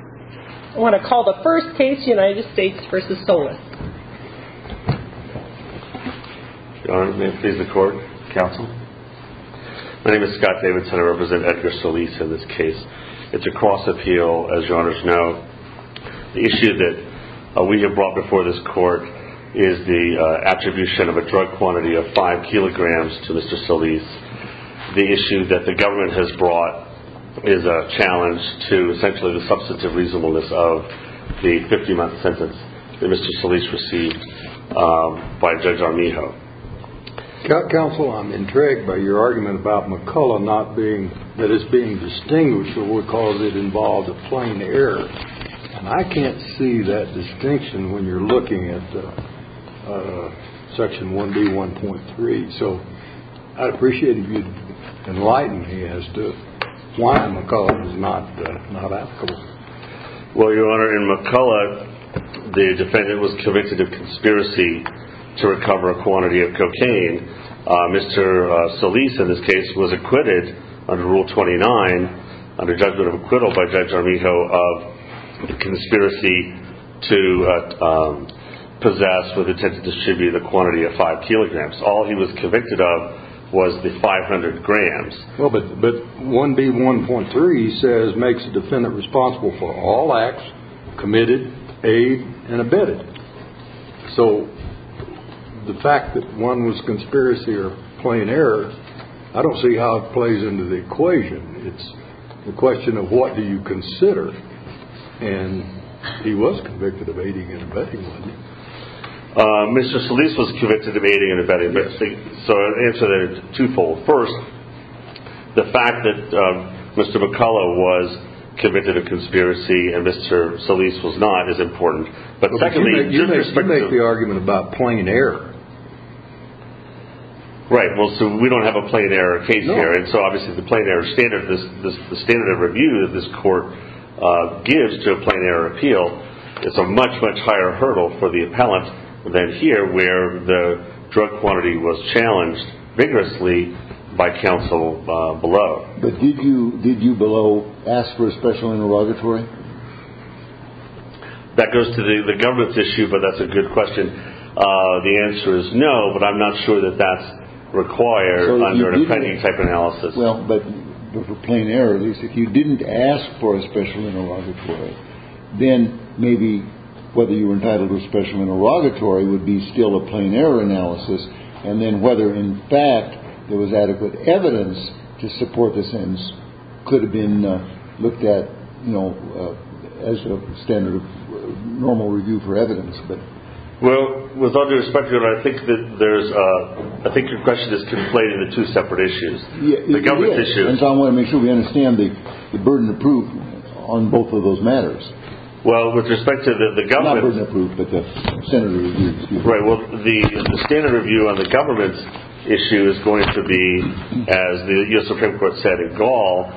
I want to call the first case United States v. Solis. Your Honor, may it please the Court, counsel? My name is Scott Davidson and I represent Edgar Solis in this case. It's a cross appeal, as your Honors know. The issue that we have brought before this Court is the attribution of a drug quantity of five kilograms to Mr. Solis. The issue that the government has brought is a challenge to essentially the substantive reasonableness of the 50-month sentence that Mr. Solis received by Judge Armijo. Counsel, I'm intrigued by your argument about McCulloch not being, that it's being distinguished because it involves a plain error. And I can't see that distinction when you're looking at Section 1B, 1.3. So I'd appreciate it if you'd enlighten me as to why McCulloch is not applicable. Well, your Honor, in McCulloch, the defendant was convicted of conspiracy to recover a quantity of cocaine. Mr. Solis, in this case, was acquitted under Rule 29, under judgment of acquittal by Judge Armijo, of conspiracy to possess with intent to distribute a quantity of five kilograms. All he was convicted of was the 500 grams. Well, but 1B, 1.3 says, makes the defendant responsible for all acts committed, aid, and abetted. So, the fact that one was conspiracy or plain error, I don't see how it plays into the equation. It's a question of what do you consider. And he was convicted of aiding and abetting, wasn't he? Mr. Solis was convicted of aiding and abetting. So I'll answer that twofold. First, the fact that Mr. McCulloch was convicted of conspiracy and Mr. Solis was not is important. But secondly, you make the argument about plain error. Right. Well, so we don't have a plain error case here. And so, obviously, the standard of review that this court gives to a plain error appeal is a much, much higher hurdle for the appellant than here, where the drug quantity was challenged vigorously by counsel below. But did you below ask for a special interrogatory? That goes to the governance issue, but that's a good question. The answer is no, but I'm not sure that that's required under any type of analysis. Well, but for plain error, at least if you didn't ask for a special interrogatory, then maybe whether you were entitled to a special interrogatory would be still a plain error analysis. And then whether, in fact, there was adequate evidence to support the sentence could have been looked at, you know, as a standard normal review for evidence. Well, with all due respect, I think your question is conflated into two separate issues. The governance issue. Yes, and so I want to make sure we understand the burden of proof on both of those matters. Well, with respect to the government. Not burden of proof, but the standard of review. Right. Well, the standard of review on the government's issue is going to be, as the U.S. Supreme Court said in Gall,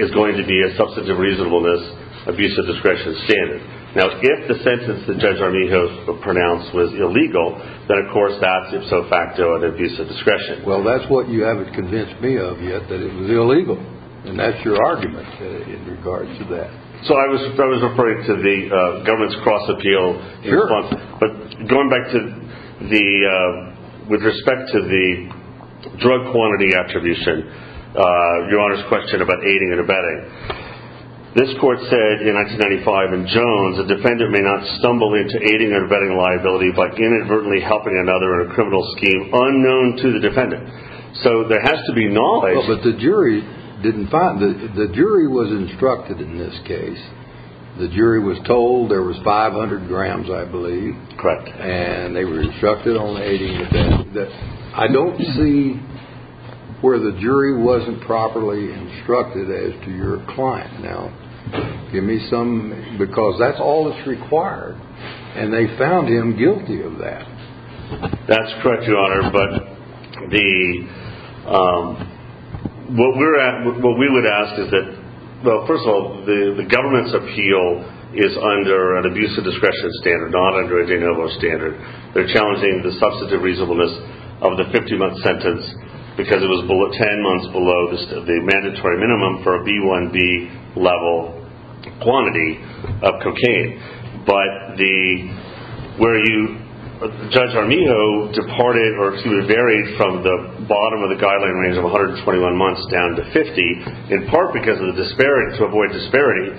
is going to be a substantive reasonableness, abuse of discretion standard. Now, if the sentence that Judge Armijo pronounced was illegal, then, of course, that's ifso facto an abuse of discretion. Well, that's what you haven't convinced me of yet, that it was illegal. And that's your argument in regards to that. So I was referring to the government's cross-appeal. Sure. But going back to the, with respect to the drug quantity attribution, your Honor's question about aiding and abetting. This court said in 1995 in Jones, a defendant may not stumble into aiding or abetting a liability by inadvertently helping another in a criminal scheme unknown to the defendant. So there has to be knowledge. But the jury didn't find it. The jury was instructed in this case. The jury was told there was 500 grams, I believe. Correct. And they were instructed on aiding and abetting. I don't see where the jury wasn't properly instructed as to your client. Now, give me some, because that's all that's required. And they found him guilty of that. That's correct, Your Honor. But the, what we would ask is that, well, first of all, the government's appeal is under an abuse of discretion standard, not under a de novo standard. They're challenging the substantive reasonableness of the 50-month sentence because it was 10 months below the mandatory minimum for a B1B level quantity of cocaine. But the, where you, Judge Armijo departed, or excuse me, varied from the bottom of the guideline range of 121 months down to 50, in part because of the disparity, to avoid disparity,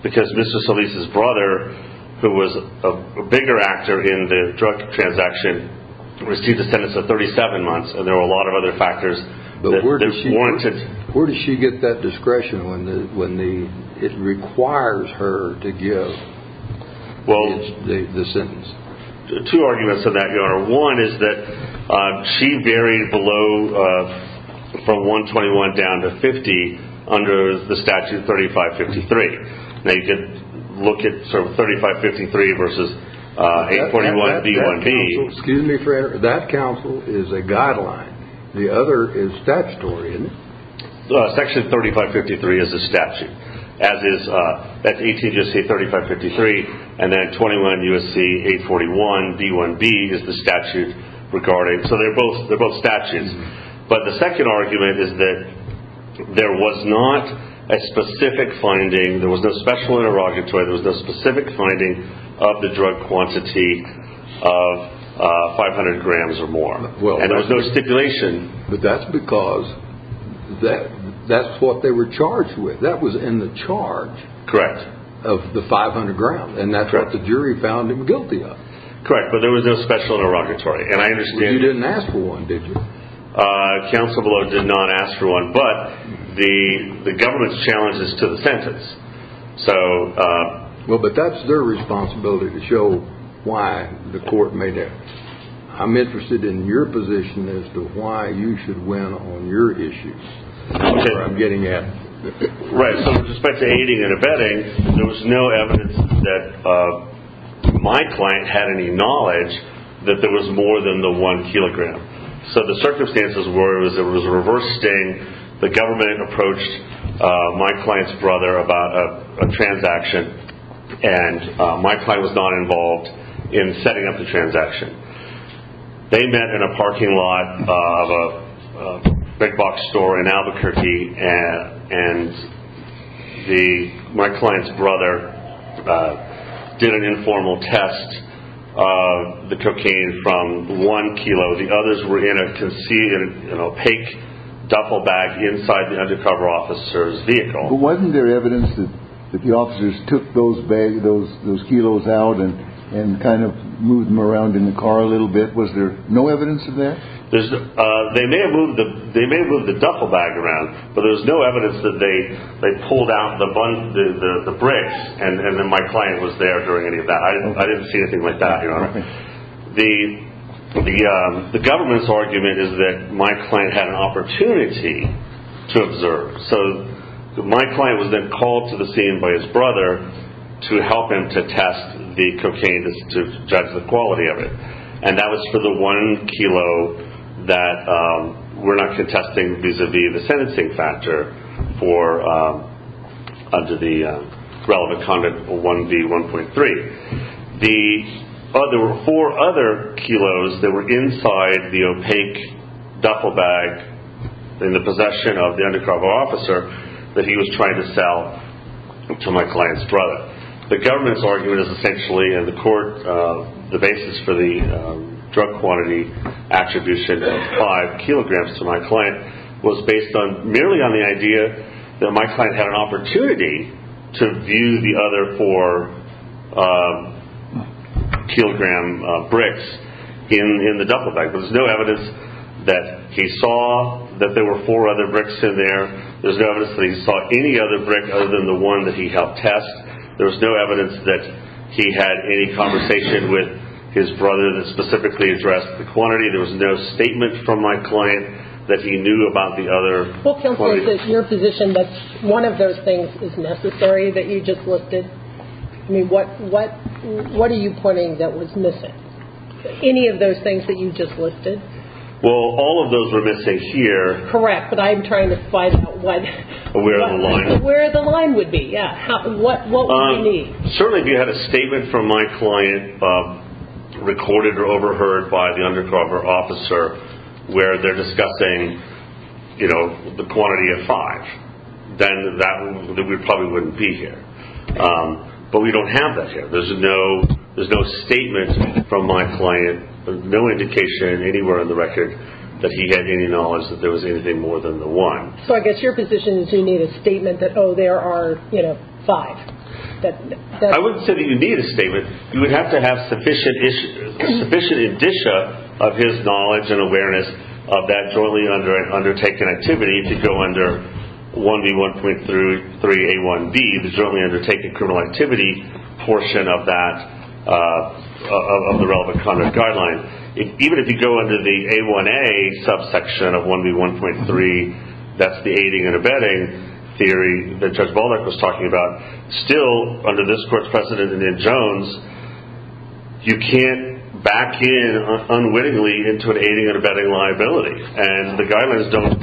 because Mr. Solis' brother, who was a bigger actor in the drug transaction, received a sentence of 37 months, and there were a lot of other factors that warranted. But where did she get that discretion when the, it requires her to give the sentence? Part one is that she varied below, from 121 down to 50, under the statute of 3553. Now, you can look at, sort of, 3553 versus 841B1B. Excuse me for, that counsel is a guideline. The other is statutory, isn't it? Section 3553 is a statute. As is, that's 18 U.S.C. 3553, and then 21 U.S.C. 841B1B is the statute regarding. So they're both statutes. But the second argument is that there was not a specific finding, there was no special interrogatory, there was no specific finding of the drug quantity of 500 grams or more. And there was no stipulation. But that's because that's what they were charged with. That was in the charge of the 500 grams, and that's what the jury found him guilty of. Correct, but there was no special interrogatory. You didn't ask for one, did you? Counsel below did not ask for one, but the government's challenge is to the sentence. Well, but that's their responsibility to show why the court made it. I'm interested in your position as to why you should win on your issues. That's where I'm getting at. Right, so with respect to aiding and abetting, there was no evidence that my client had any knowledge that there was more than the one kilogram. So the circumstances were it was a reverse sting. The government approached my client's brother about a transaction, and my client was not involved in setting up the transaction. They met in a parking lot of a big box store in Albuquerque, and my client's brother did an informal test of the cocaine from one kilo. The others were in a conceded and opaque duffel bag inside the undercover officer's vehicle. But wasn't there evidence that the officers took those kilos out and kind of moved them around in the car a little bit? Was there no evidence of that? They may have moved the duffel bag around, but there was no evidence that they pulled out the bricks and then my client was there during any of that. I didn't see anything like that, Your Honor. The government's argument is that my client had an opportunity to observe. So my client was then called to the scene by his brother to help him to test the cocaine, to judge the quality of it. And that was for the one kilo that we're not contesting vis-a-vis the sentencing factor under the relevant Conduct 1V1.3. There were four other kilos that were inside the opaque duffel bag in the possession of the undercover officer that he was trying to sell to my client's brother. The government's argument is essentially, in the court, the basis for the drug quantity attribution of five kilograms to my client was based merely on the idea that my client had an opportunity to view the other four kilogram bricks in the duffel bag. There was no evidence that he saw that there were four other bricks in there. There was no evidence that he saw any other brick other than the one that he helped test. There was no evidence that he had any conversation with his brother that specifically addressed the quantity. There was no statement from my client that he knew about the other quantity. Well, counsel, is it your position that one of those things is necessary that you just listed? I mean, what are you putting that was missing? Any of those things that you just listed? Well, all of those were missing here. Correct, but I'm trying to find out what... Where the line. Where the line would be, yeah. What would we need? Certainly, if you had a statement from my client recorded or overheard by the undercover officer where they're discussing the quantity of five, then we probably wouldn't be here. But we don't have that here. There's no statement from my client, no indication anywhere in the record that he had any knowledge that there was anything more than the one. So I guess your position is you need a statement that, oh, there are five. I wouldn't say that you need a statement. You would have to have sufficient indicia of his knowledge and awareness of that jointly undertaken activity if you go under 1B1.3A1B, the jointly undertaken criminal activity portion of the relevant conduct guideline. Even if you go under the A1A subsection of 1B1.3, that's the aiding and abetting theory that Judge Volbeck was talking about. Still, under this court's precedent in Jones, you can't back in unwittingly into an aiding and abetting liability. And the guidelines don't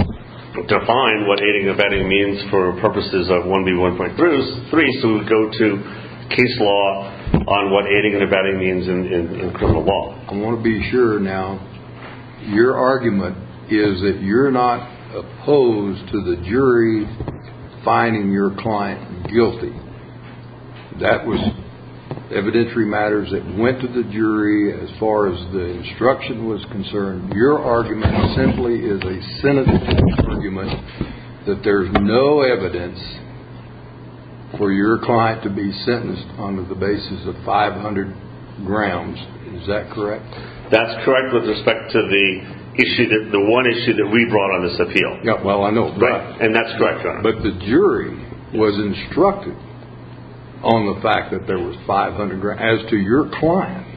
define what aiding and abetting means for purposes of 1B1.3. So we would go to case law on what aiding and abetting means in criminal law. I want to be sure now. Your argument is that you're not opposed to the jury finding your client guilty. That was evidentiary matters that went to the jury as far as the instruction was concerned. Your argument simply is a sentencing argument that there's no evidence for your client to be sentenced on the basis of 500 grams. Is that correct? That's correct with respect to the one issue that we brought on this appeal. And that's correct, Your Honor. But the jury was instructed on the fact that there was 500 grams as to your client.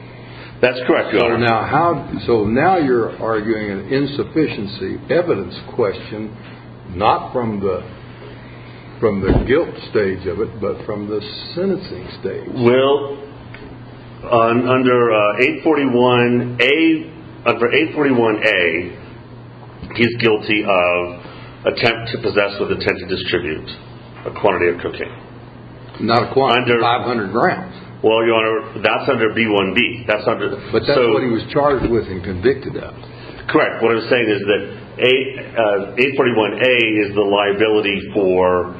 That's correct, Your Honor. So now you're arguing an insufficiency evidence question not from the guilt stage of it but from the sentencing stage. Well, under 841A, he's guilty of attempt to possess with intent to distribute a quantity of cocaine. Not a quantity, 500 grams. Well, Your Honor, that's under B1B. But that's what he was charged with and convicted of. Correct. What I'm saying is that 841A is the liability for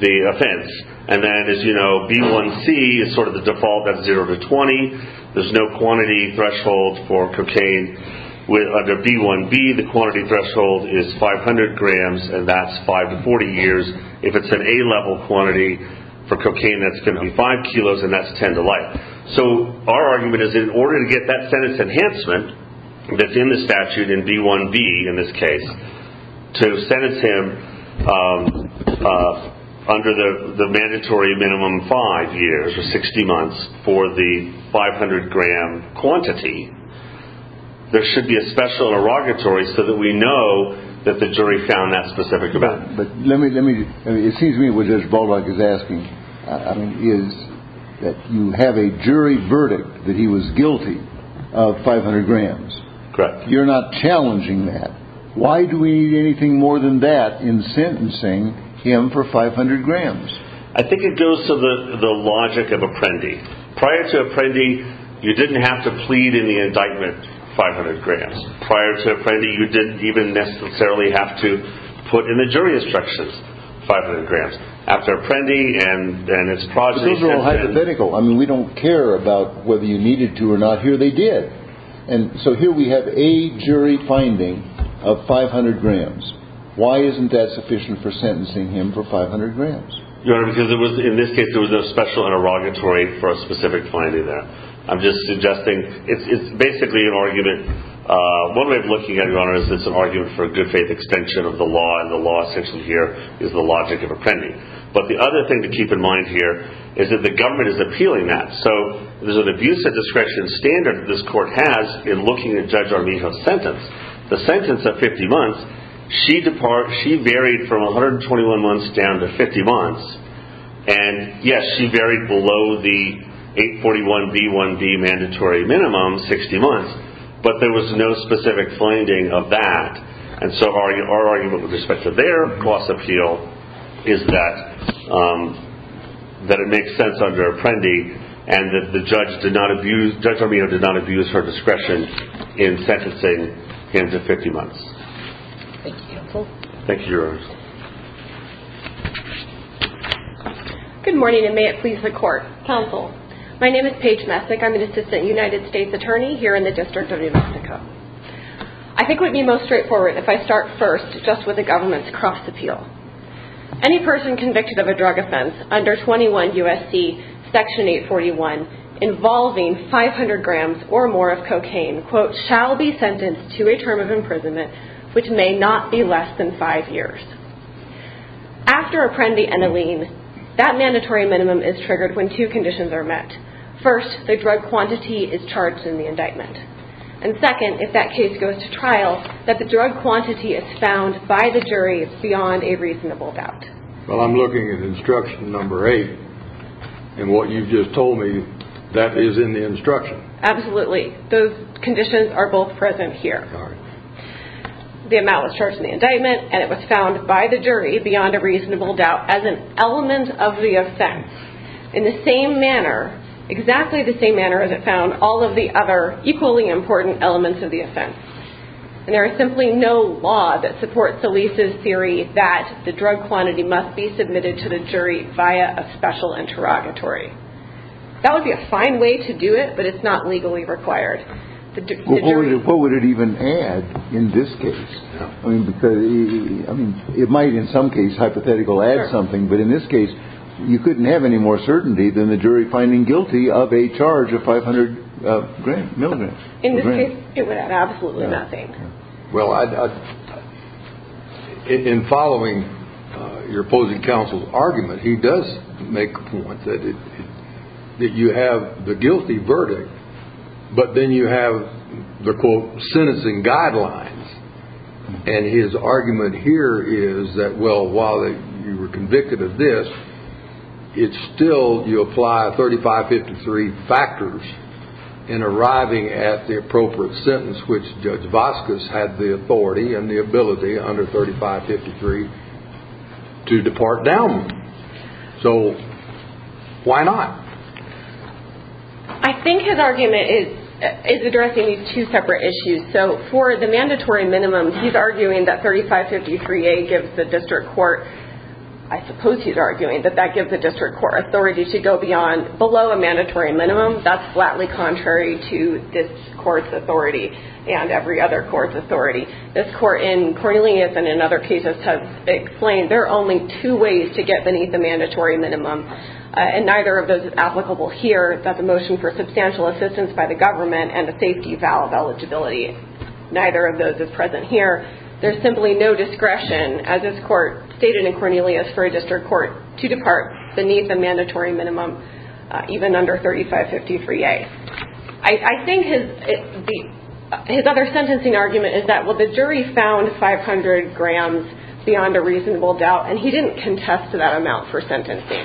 the offense. And then, as you know, B1C is sort of the default. That's 0 to 20. There's no quantity threshold for cocaine. Under B1B, the quantity threshold is 500 grams, and that's 5 to 40 years. If it's an A-level quantity for cocaine, that's going to be 5 kilos, and that's 10 to life. So our argument is that in order to get that sentence enhancement that's in the statute in B1B, in this case, to sentence him under the mandatory minimum 5 years or 60 months for the 500-gram quantity, there should be a special inauguratory so that we know that the jury found that specific event. It seems to me what Judge Baldock is asking is that you have a jury verdict that he was guilty of 500 grams. Correct. You're not challenging that. Why do we need anything more than that in sentencing him for 500 grams? I think it goes to the logic of Apprendi. Prior to Apprendi, you didn't have to plead in the indictment 500 grams. Prior to Apprendi, you didn't even necessarily have to put in the jury instructions 500 grams. After Apprendi and his progeny sentenced him— But those are all hypothetical. I mean, we don't care about whether you needed to or not. Here they did. And so here we have a jury finding of 500 grams. Why isn't that sufficient for sentencing him for 500 grams? Your Honor, because in this case, there was a special inauguratory for a specific finding there. I'm just suggesting it's basically an argument. One way of looking at it, Your Honor, is it's an argument for a good faith extension of the law. And the law essentially here is the logic of Apprendi. But the other thing to keep in mind here is that the government is appealing that. So there's an abuse of discretion standard that this court has in looking at Judge Armijo's sentence. The sentence of 50 months, she varied from 121 months down to 50 months. And yes, she varied below the 841B1B mandatory minimum, 60 months. But there was no specific finding of that. And so our argument with respect to their cost appeal is that it makes sense under Apprendi. And that Judge Armijo did not abuse her discretion in sentencing him to 50 months. Thank you, Your Honor. Good morning, and may it please the Court, Counsel. My name is Paige Messick. I'm an Assistant United States Attorney here in the District of New Mexico. I think it would be most straightforward if I start first just with the government's cost appeal. Any person convicted of a drug offense under 21 U.S.C. Section 841 involving 500 grams or more of cocaine, quote, shall be sentenced to a term of imprisonment which may not be less than five years. After Apprendi and Alene, that mandatory minimum is triggered when two conditions are met. First, the drug quantity is charged in the indictment. And second, if that case goes to trial, that the drug quantity is found by the jury is beyond a reasonable doubt. Well, I'm looking at instruction number eight. And what you've just told me, that is in the instruction. Absolutely. Those conditions are both present here. The amount was charged in the indictment, and it was found by the jury beyond a reasonable doubt as an element of the offense. In the same manner, exactly the same manner as it found all of the other equally important elements of the offense. And there is simply no law that supports Elise's theory that the drug quantity must be submitted to the jury via a special interrogatory. That would be a fine way to do it, but it's not legally required. What would it even add in this case? I mean, it might in some case, hypothetically, add something. But in this case, you couldn't have any more certainty than the jury finding guilty of a charge of 500 milligrams. In this case, it would add absolutely nothing. Well, in following your opposing counsel's argument, he does make a point that you have the guilty verdict. But then you have the, quote, sentencing guidelines. And his argument here is that, well, while you were convicted of this, it's still, you apply 3553 factors in arriving at the appropriate sentence, which Judge Vasquez had the authority and the ability under 3553 to depart down. So, why not? I think his argument is addressing these two separate issues. So, for the mandatory minimum, he's arguing that 3553A gives the district court, I suppose he's arguing that that gives the district court authority to go below a mandatory minimum. That's flatly contrary to this court's authority and every other court's authority. This court in Cornelius and in other cases has explained there are only two ways to get beneath the mandatory minimum. And neither of those is applicable here. That's a motion for substantial assistance by the government and a safety vow of eligibility. Neither of those is present here. There's simply no discretion, as this court stated in Cornelius, for a district court to depart beneath a mandatory minimum, even under 3553A. I think his other sentencing argument is that, well, the jury found 500 grams beyond a reasonable doubt. And he didn't contest that amount for sentencing.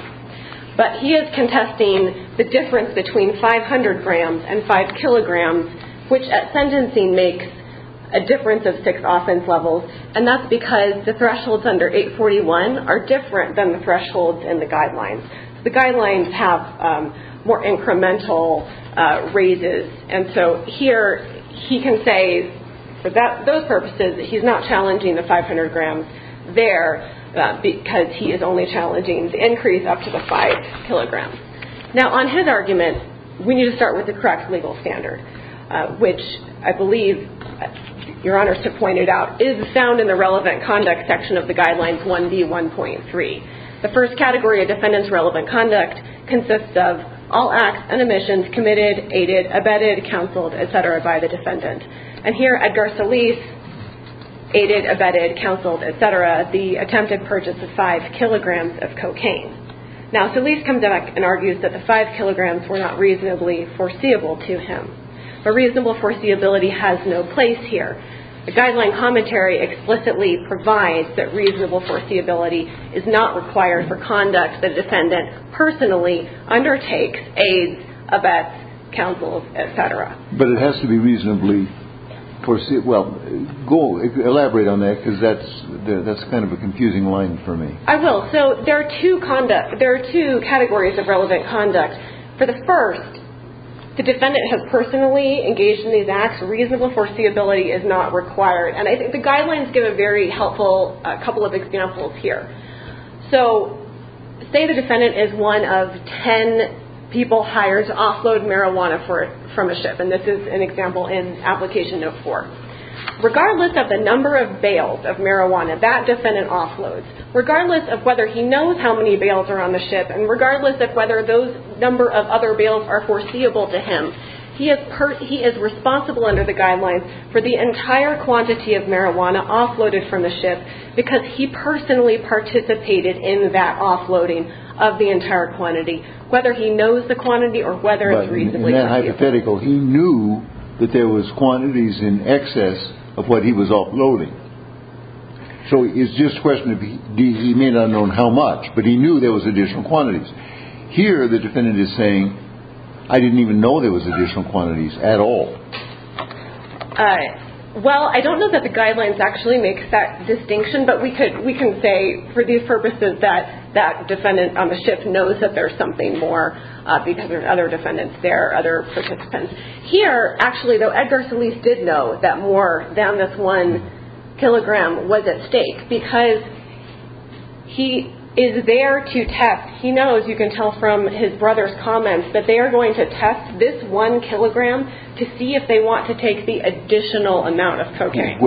But he is contesting the difference between 500 grams and 5 kilograms, which at sentencing makes a difference of 6 offense levels. And that's because the thresholds under 841 are different than the thresholds in the guidelines. The guidelines have more incremental raises. And so here he can say, for those purposes, he's not challenging the 500 grams there because he is only challenging the increase up to the 5 kilograms. Now, on his argument, we need to start with the correct legal standard, which I believe Your Honor pointed out is found in the relevant conduct section of the Guidelines 1B1.3. The first category of defendant's relevant conduct consists of all acts and omissions committed, aided, abetted, counseled, etc. by the defendant. And here, Edgar Solis aided, abetted, counseled, etc. the attempted purchase of 5 kilograms of cocaine. Now, Solis comes back and argues that the 5 kilograms were not reasonably foreseeable to him. But reasonable foreseeability has no place here. The guideline commentary explicitly provides that reasonable foreseeability is not required for conduct the defendant personally undertakes, aids, abets, counseled, etc. But it has to be reasonably foreseeable. Elaborate on that because that's kind of a confusing line for me. I will. So there are two categories of relevant conduct. For the first, the defendant has personally engaged in these acts. Reasonable foreseeability is not required. And I think the guidelines give a very helpful couple of examples here. So, say the defendant is one of 10 people hired to offload marijuana from a ship. And this is an example in Application No. 4. Regardless of the number of bales of marijuana that defendant offloads, regardless of whether he knows how many bales are on the ship, and regardless of whether those number of other bales are foreseeable to him, he is responsible under the guidelines for the entire quantity of marijuana offloaded from the ship because he personally participated in that offloading of the entire quantity, whether he knows the quantity or whether it's reasonably foreseeable. But in that hypothetical, he knew that there was quantities in excess of what he was offloading. So it's just a question of he may not have known how much, but he knew there was additional quantities. Here, the defendant is saying, I didn't even know there was additional quantities at all. Well, I don't know that the guidelines actually make that distinction, but we can say for these purposes that that defendant on the ship knows that there's something more because there's other defendants there, other participants. Here, actually, though, Edgar Solis did know that more than this one kilogram was at stake because he is there to test. He knows, you can tell from his brother's comments, that they are going to test this one kilogram to see if they want to take the additional amount of cocaine.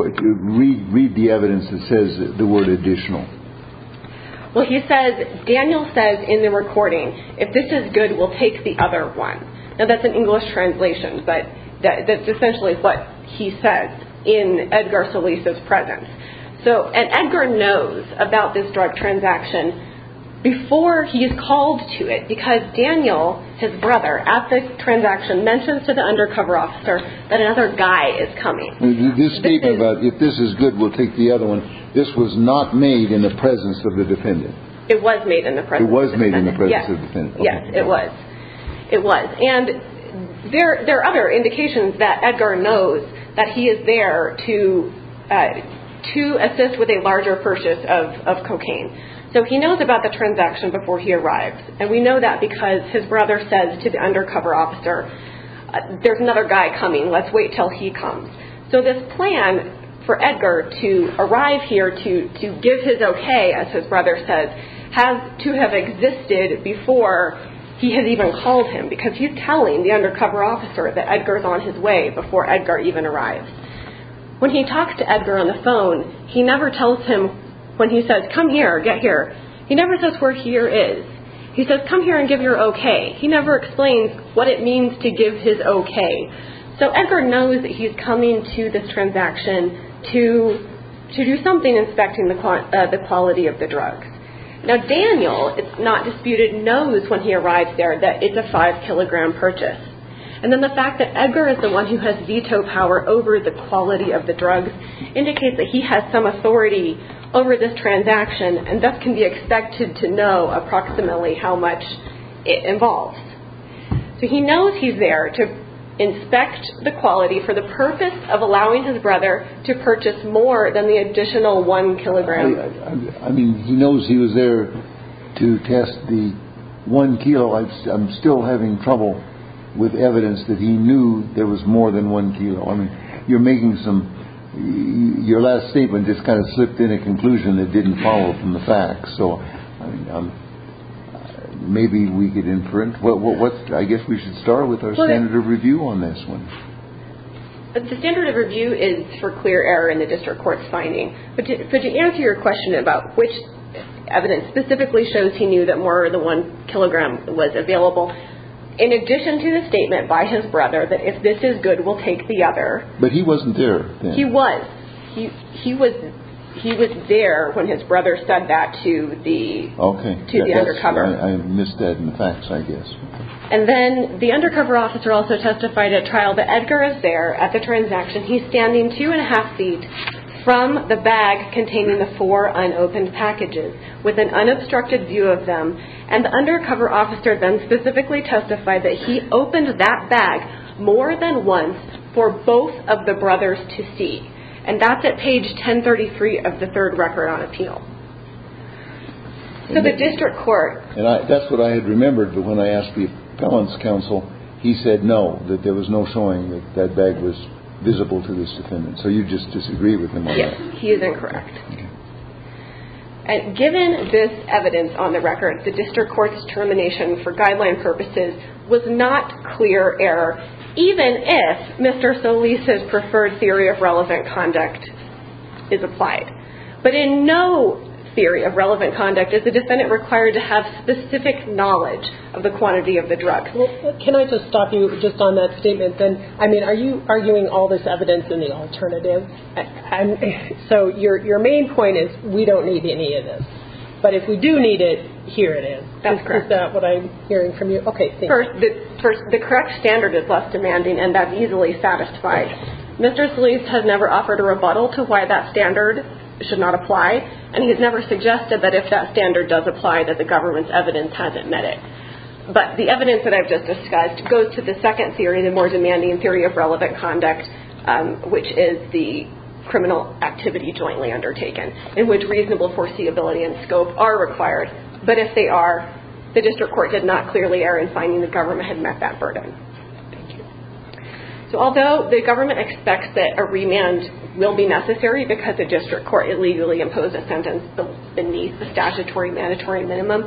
Read the evidence that says the word additional. Well, he says, Daniel says in the recording, if this is good, we'll take the other one. Now, that's an English translation, but that's essentially what he says in Edgar Solis' presence. So, and Edgar knows about this drug transaction before he is called to it because Daniel, his brother, at this transaction, mentions to the undercover officer that another guy is coming. This statement about if this is good, we'll take the other one, this was not made in the presence of the defendant. It was made in the presence of the defendant. It was made in the presence of the defendant. Yes, it was. It was. And there are other indications that Edgar knows that he is there to assist with a larger purchase of cocaine. So, he knows about the transaction before he arrives. And we know that because his brother says to the undercover officer, there's another guy coming, let's wait until he comes. So, this plan for Edgar to arrive here to give his okay, as his brother says, has to have existed before he has even called him because he's telling the undercover officer that Edgar is on his way before Edgar even arrives. When he talks to Edgar on the phone, he never tells him when he says, come here, get here. He never says where here is. He says, come here and give your okay. He never explains what it means to give his okay. So, Edgar knows that he's coming to this transaction to do something inspecting the quality of the drugs. Now, Daniel, it's not disputed, knows when he arrives there that it's a five kilogram purchase. And then the fact that Edgar is the one who has veto power over the quality of the drugs indicates that he has some authority over this transaction and thus can be expected to know approximately how much it involves. So, he knows he's there to inspect the quality for the purpose of allowing his brother to purchase more than the additional one kilogram. I mean, he knows he was there to test the one kilo. I'm still having trouble with evidence that he knew there was more than one kilo. I mean, you're making some, your last statement just kind of slipped in a conclusion that didn't follow from the facts. So, maybe we get in front. Well, I guess we should start with our standard of review on this one. The standard of review is for clear error in the district court's finding. But to answer your question about which evidence specifically shows he knew that more than one kilogram was available, in addition to the statement by his brother that if this is good, we'll take the other. But he wasn't there. He was. He was there when his brother said that to the undercover. I missed that in the facts, I guess. And then the undercover officer also testified at trial that Edgar is there at the transaction. He's standing two and a half feet from the bag containing the four unopened packages with an unobstructed view of them. And the undercover officer then specifically testified that he opened that bag more than once for both of the brothers to see. And that's at page 1033 of the third record on appeal. So, the district court. And that's what I had remembered. But when I asked the appellant's counsel, he said no, that there was no showing that that bag was visible to this defendant. So, you just disagree with him. Yes, he is incorrect. And given this evidence on the record, the district court's termination for guideline purposes was not clear error, even if Mr. Solis' preferred theory of relevant conduct is applied. But in no theory of relevant conduct is the defendant required to have specific knowledge of the quantity of the drug. Well, can I just stop you just on that statement then? I mean, are you arguing all this evidence in the alternative? So, your main point is we don't need any of this. But if we do need it, here it is. That's correct. Is that what I'm hearing from you? Okay, thank you. First, the correct standard is less demanding, and that's easily satisfied. Mr. Solis has never offered a rebuttal to why that standard should not apply, and he has never suggested that if that standard does apply, that the government's evidence hasn't met it. But the evidence that I've just discussed goes to the second theory, the more demanding theory of relevant conduct, which is the criminal activity jointly undertaken, in which reasonable foreseeability and scope are required. But if they are, the district court did not clearly err in finding the government had met that burden. Thank you. So, although the government expects that a remand will be necessary because the district court illegally imposed a sentence beneath the statutory mandatory minimum,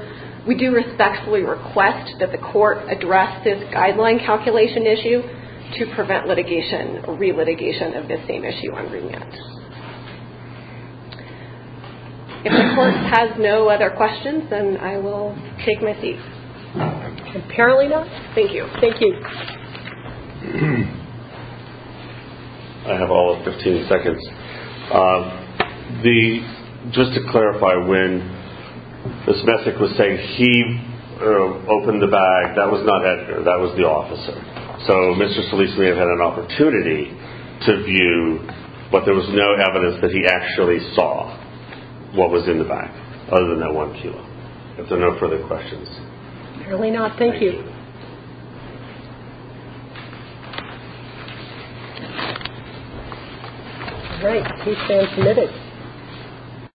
we do respectfully request that the court address this guideline calculation issue to prevent litigation or re-litigation of this same issue on remand. If the court has no other questions, then I will take my seat. Apparently not. Thank you. Thank you. I have all of 15 seconds. Just to clarify, when Ms. Messick was saying he opened the bag, that was not Edgar, that was the officer. So Mr. Solis may have had an opportunity to view, but there was no evidence that he actually saw what was in the bag, other than that one kilo. If there are no further questions. Apparently not. Thank you. All right. We stand committed.